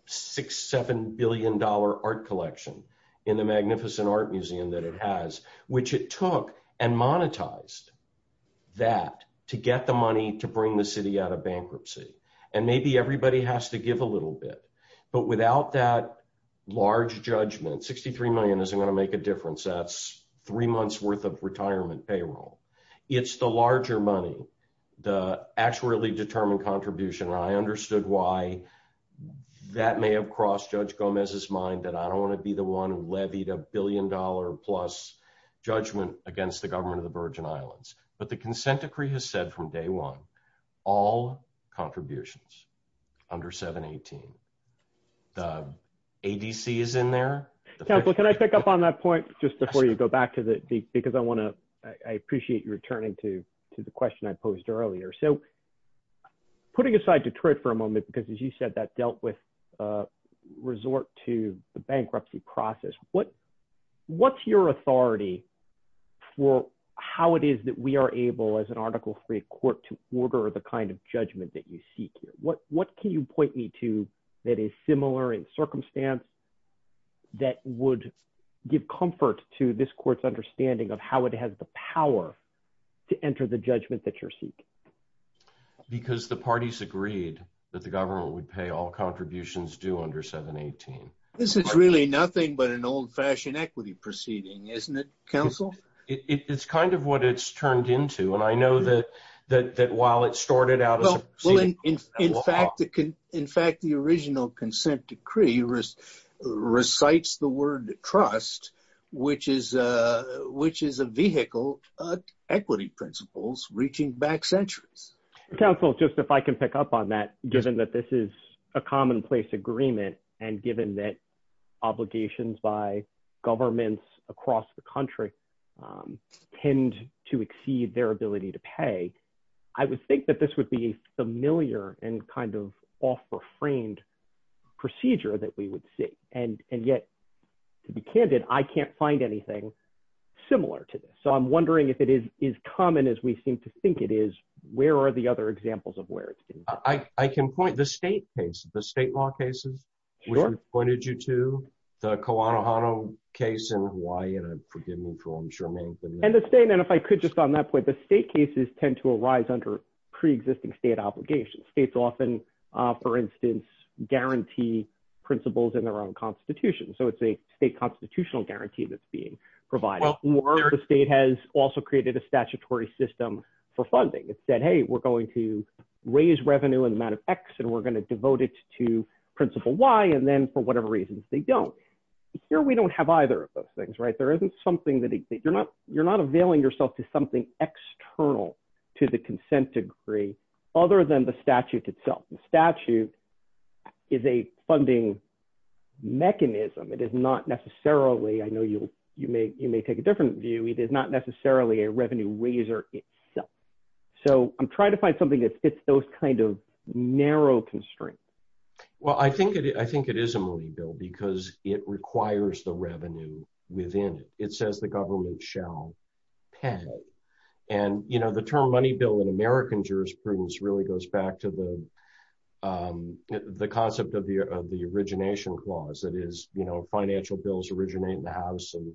$6-7 billion art collection in the magnificent art museum that it has, which it took and monetized that to get the money to bring the city out of bankruptcy. And maybe everybody has to give a little bit. But without that large judgment, $63 million isn't going to make a difference. That's three months' worth of retirement payroll. It's the larger money, the actually determined contribution, and I understood why that may have crossed Judge Gomez's mind that I don't want to be the one who levied a billion-dollar-plus judgment against the government of the Virgin Islands. But the consent decree has said from day one, all contributions under 718. The ADC is in there. Counselor, can I pick up on that point just before you go back to the – because I want to – I appreciate you returning to the question I posed earlier. So putting aside Detroit for a moment, because as you said, that dealt with resort to the bankruptcy process, what's your authority for how it is that we are able, as an article-free court, to order the kind of judgment that you seek here? What can you point me to that is similar in circumstance that would give comfort to this court's understanding of how it has the power to enter the judgment that you seek? Because the parties agreed that the government would pay all contributions due under 718. This is really nothing but an old-fashioned equity proceeding, isn't it, Counsel? It's kind of what it's turned into. Well, in fact, the original consent decree recites the word trust, which is a vehicle of equity principles reaching back centuries. Counsel, just if I can pick up on that, given that this is a commonplace agreement and given that obligations by governments across the country tend to exceed their ability to pay, I would think that this would be a familiar and kind of off-the-frame procedure that we would see. And yet, to be candid, I can't find anything similar to this. So I'm wondering if it is common as we seem to think it is, where are the other examples of where it's been common? I can point, the state case, the state law cases, which we've pointed you to, the Kauanohano case in Hawaii, and forgive me for what I'm sure many of you know. And the state, and if I could just on that point, the state cases tend to arise under pre-existing state obligations. States often, for instance, guarantee principles in their own constitution. So it's a state constitutional guarantee that's being provided. Or the state has also created a statutory system for funding. It said, hey, we're going to raise revenue in the amount of X, and we're going to devote it to principle Y, and then, for whatever reasons, they don't. Here, we don't have either of those things, right? There isn't something that, you're not availing yourself to something external to the consent decree, other than the statute itself. The statute is a funding mechanism. It is not necessarily, I know you may take a different view, it is not necessarily a revenue raiser itself. So I'm trying to find something that fits those kind of narrow constraints. Well, I think it is a money bill, because it requires the revenue within it. It says the government shall pay. And, you know, the term money bill in American jurisprudence really goes back to the concept of the origination clause. That is, you know, financial bills originate in the House, and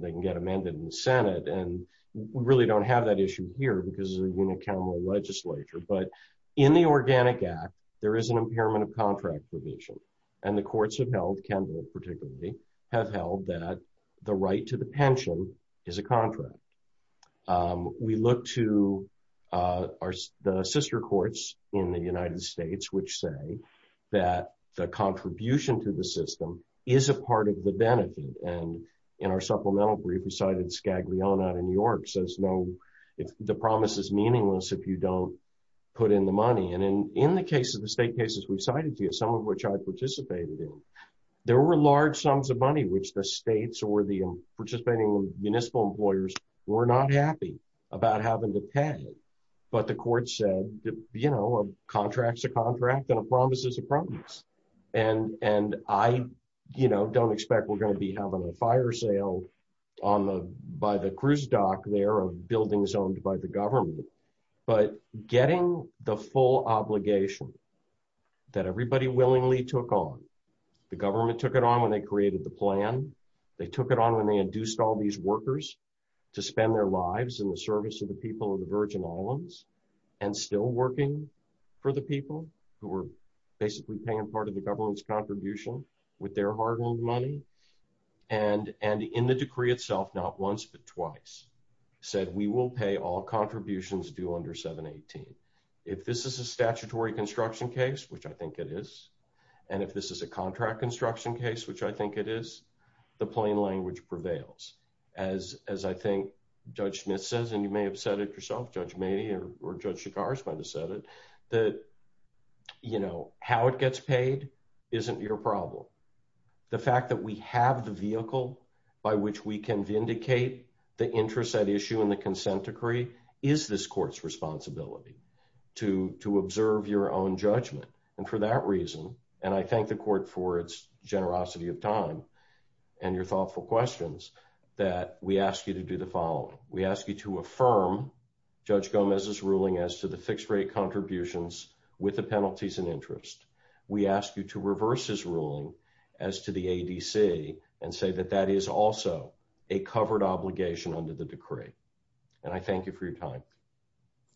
they can get amended in the Senate. And we really don't have that issue here, because it's a unicameral legislature. But in the Organic Act, there is an impairment of contract provision. And the courts have held, Kendall particularly, have held that the right to the pension is a contract. We look to the sister courts in the United States, which say that the contribution to the system is a part of the benefit. And in our supplemental brief, we cited Scaglione out of New York, says no, the promise is meaningless if you don't put in the money. And in the case of the state cases we've cited to you, some of which I participated in, there were large sums of money, which the states or the participating municipal employers were not happy about having to pay. But the court said, you know, a contract is a contract and a promise is a promise. And I, you know, don't expect we're going to be having a fire sale by the cruise dock there of buildings owned by the government. But getting the full obligation that everybody willingly took on, the government took it on when they created the plan. They took it on when they induced all these workers to spend their lives in the service of the people of the Virgin Islands, and still working for the people who were basically paying part of the government's contribution with their hard-earned money. And in the decree itself, not once but twice, said we will pay all contributions due under 718. If this is a statutory construction case, which I think it is, and if this is a contract construction case, which I think it is, the plain language prevails. As I think Judge Smith says, and you may have said it yourself, Judge Maney or Judge Chigars might have said it, that, you know, how it gets paid isn't your problem. The fact that we have the vehicle by which we can vindicate the interest at issue in the consent decree is this court's responsibility to observe your own judgment. And for that reason, and I thank the court for its generosity of time and your thoughtful questions, that we ask you to do the following. We ask you to affirm Judge Gomez's ruling as to the fixed-rate contributions with the penalties and interest. We ask you to reverse his ruling as to the ADC and say that that is also a covered obligation under the decree. And I thank you for your time.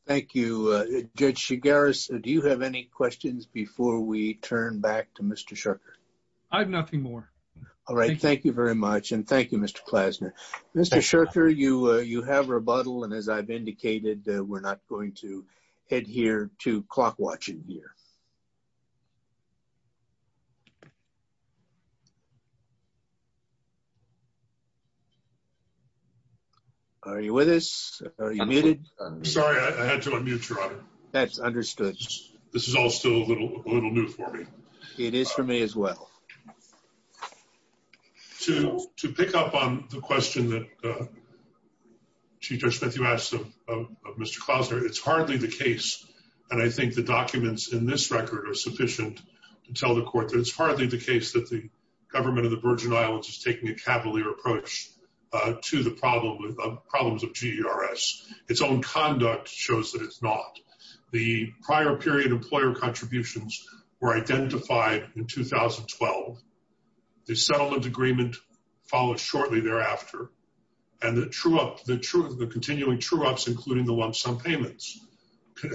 Thank you. Judge Chigars, do you have any questions before we turn back to Mr. Shurker? I have nothing more. All right, thank you very much, and thank you, Mr. Klasner. Mr. Shurker, you have rebuttal, and as I've indicated, we're not going to adhere to clock-watching here. Are you with us? Are you muted? Sorry, I had to unmute, Your Honor. That's understood. This is all still a little new for me. It is for me as well. To pick up on the question that Chief Judge Smith, you asked of Mr. Klasner, it's hardly the case, and I think the documents in this record are sufficient to tell the court, that it's hardly the case that the government of the Virgin Islands is taking a cavalier approach to the problems of GDRS. Its own conduct shows that it's not. The prior period employer contributions were identified in 2012. The settlement agreement followed shortly thereafter, and the continuing true-ups, including the lump-sum payments,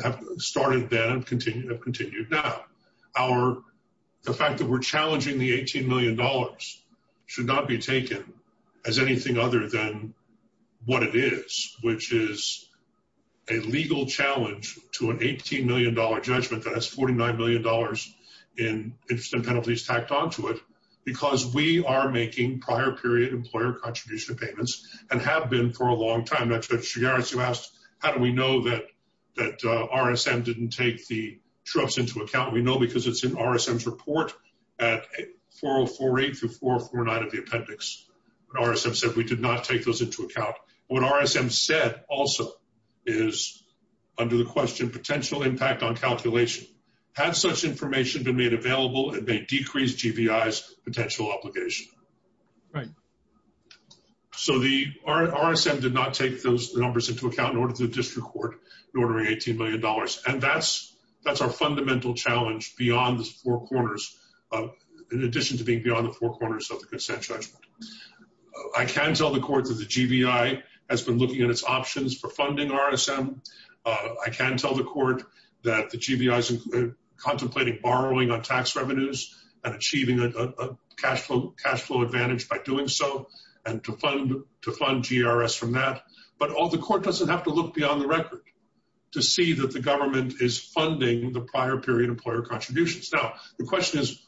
have started then and have continued now. The fact that we're challenging the $18 million should not be taken as anything other than what it is, which is a legal challenge to an $18 million judgment that has $49 million in interest and penalties tacked onto it, because we are making prior period employer contribution payments and have been for a long time. That's what you asked. How do we know that RSM didn't take the true-ups into account? We know because it's in RSM's report at 4048 through 4049 of the appendix. RSM said we did not take those into account. What RSM said also is, under the question, potential impact on calculation. Had such information been made available, it may decrease GBI's potential obligation. Right. So the RSM did not take those numbers into account in order to district court in ordering $18 million, and that's our fundamental challenge beyond the four corners, in addition to being beyond the four corners of the consent judgment. I can tell the court that the GBI has been looking at its options for funding RSM. I can tell the court that the GBI is contemplating borrowing on tax revenues and achieving a cash flow advantage by doing so and to fund GRS from that. But the court doesn't have to look beyond the record to see that the government is funding the prior period employer contributions. Now, the question is,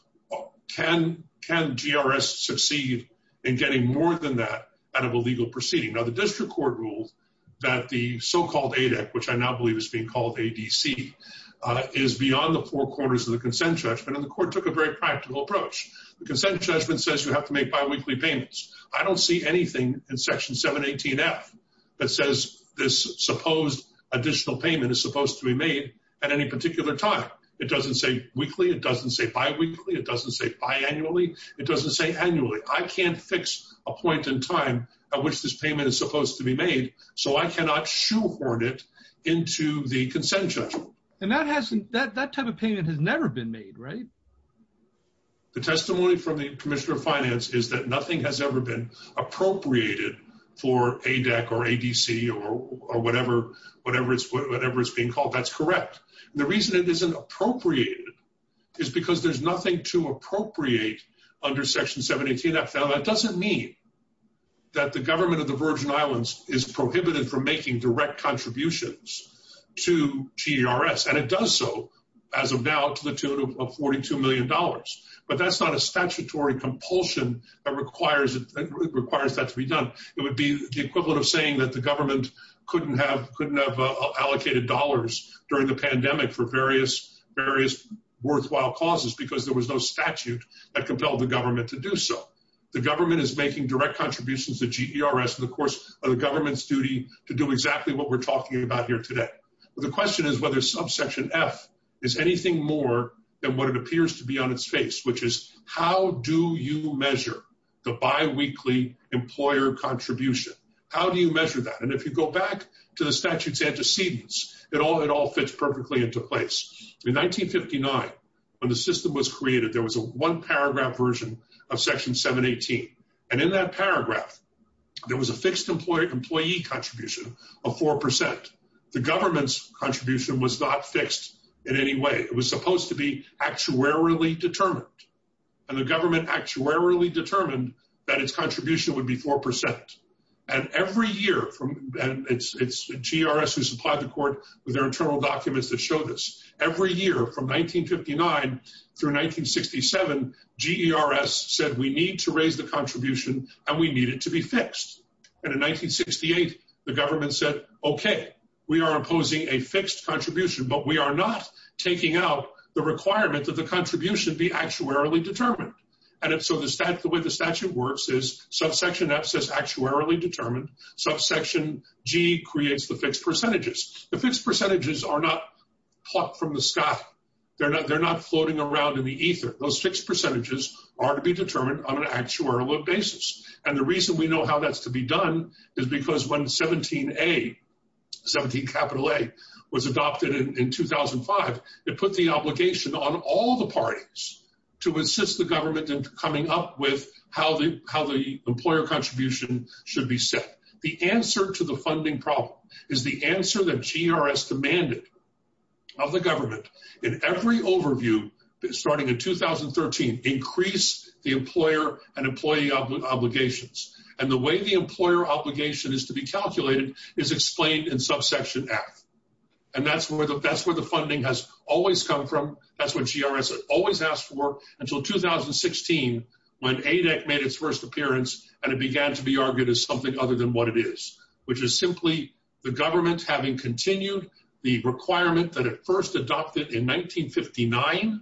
can GRS succeed in getting more than that out of a legal proceeding? Now, the district court ruled that the so-called ADEC, which I now believe is being called ADC, is beyond the four corners of the consent judgment, and the court took a very practical approach. The consent judgment says you have to make biweekly payments. I don't see anything in Section 718F that says this supposed additional payment is supposed to be made at any particular time. It doesn't say weekly. It doesn't say biweekly. It doesn't say biannually. It doesn't say annually. I can't fix a point in time at which this payment is supposed to be made, so I cannot shoehorn it into the consent judgment. And that type of payment has never been made, right? The testimony from the commissioner of finance is that nothing has ever been appropriated for ADEC or ADC or whatever it's being called. That's correct. The reason it isn't appropriated is because there's nothing to appropriate under Section 718F. Now, that doesn't mean that the government of the Virgin Islands is prohibited from making direct contributions to GRS, and it does so as of now to the tune of $42 million, but that's not a statutory compulsion that requires that to be done. It would be the equivalent of saying that the government couldn't have allocated dollars during the pandemic for various worthwhile causes because there was no statute that compelled the government to do so. The government is making direct contributions to GERS in the course of the government's duty to do exactly what we're talking about here today. The question is whether subsection F is anything more than what it appears to be on its face, which is how do you measure the biweekly employer contribution? How do you measure that? And if you go back to the statute's antecedents, it all fits perfectly into place. In 1959, when the system was created, there was a one-paragraph version of Section 718, and in that paragraph, there was a fixed employee contribution of 4%. The government's contribution was not fixed in any way. It was supposed to be actuarially determined, and the government actuarially determined that its contribution would be 4%. And every year, and it's GRS who supplied the court with their internal documents that show this, every year from 1959 through 1967, GERS said we need to raise the contribution and we need it to be fixed. And in 1968, the government said, okay, we are imposing a fixed contribution, but we are not taking out the requirement that the contribution be actuarially determined. And so the way the statute works is subsection F says actuarially determined. Subsection G creates the fixed percentages. The fixed percentages are not plucked from the sky. They're not floating around in the ether. Those fixed percentages are to be determined on an actuarial basis. And the reason we know how that's to be done is because when 17A, 17 capital A, was adopted in 2005, it put the obligation on all the parties to assist the government in coming up with how the employer contribution should be set. The answer to the funding problem is the answer that GRS demanded of the government. In every overview, starting in 2013, increase the employer and employee obligations. And the way the employer obligation is to be calculated is explained in subsection F. And that's where the funding has always come from. That's what GRS always asked for until 2016, when ADEC made its first appearance and it began to be argued as something other than what it is, which is simply the government having continued the requirement that it first adopted in 1959,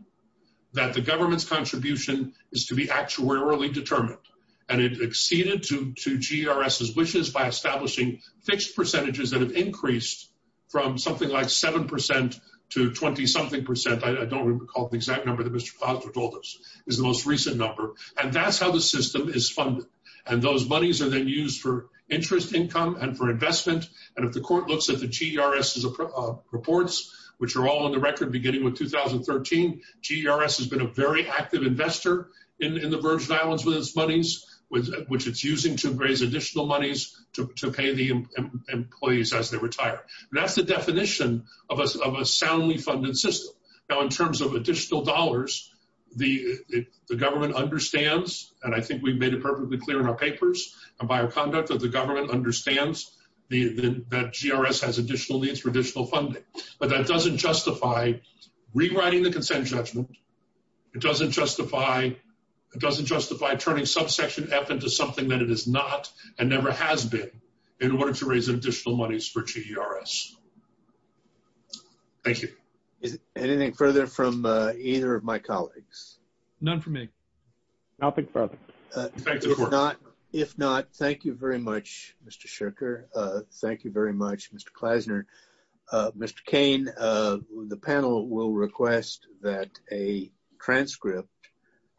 that the government's contribution is to be actuarially determined. And it exceeded to GRS's wishes by establishing fixed percentages that have increased from something like 7% to 20-something percent. I don't recall the exact number that Mr. Foster told us is the most recent number. And that's how the system is funded. And those monies are then used for interest income and for investment. And if the court looks at the GRS's reports, which are all on the record beginning with 2013, GRS has been a very active investor in the Virgin Islands with its monies, which it's using to raise additional monies to pay the employees as they retire. That's the definition of a soundly funded system. Now, in terms of additional dollars, the government understands, and I think we've made it perfectly clear in our papers and by our conduct, that the government understands that GRS has additional needs for additional funding. But that doesn't justify rewriting the consent judgment. It doesn't justify turning subsection F into something that it is not and never has been in order to raise additional monies for GRS. Thank you. Is there anything further from either of my colleagues? None for me. I'll pick for them. If not, thank you very much, Mr. Shirker. Thank you very much, Mr. Klasner. Mr. Cain, the panel will request that a transcript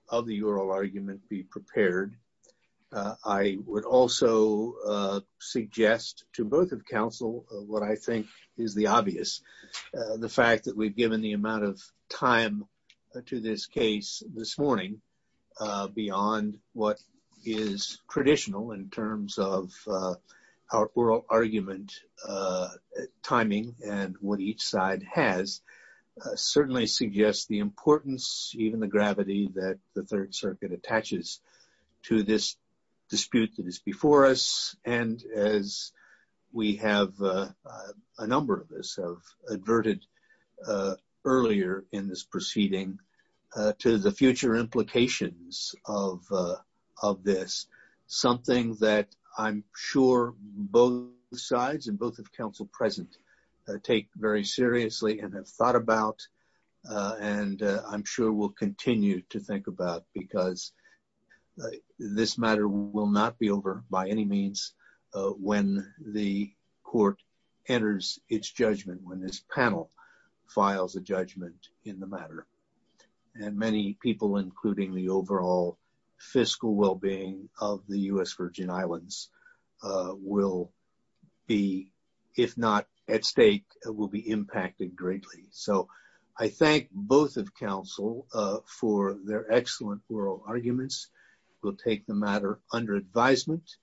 of the oral argument be prepared. I would also suggest to both of counsel what I think is the obvious. The fact that we've given the amount of time to this case this morning beyond what is traditional in terms of our oral argument timing and what each side has certainly suggests the importance, even the gravity that the Third Circuit attaches to this dispute that is before us. And as we have a number of us have adverted earlier in this proceeding to the future implications of this, something that I'm sure both sides and both of counsel present take very seriously and have thought about. And I'm sure we'll continue to think about because this matter will not be over by any means when the court enters its judgment, when this panel files a judgment in the matter. And many people, including the overall fiscal well-being of the U.S. Virgin Islands, will be, if not at stake, will be impacted greatly. So I thank both of counsel for their excellent oral arguments. We'll take the matter under advisement.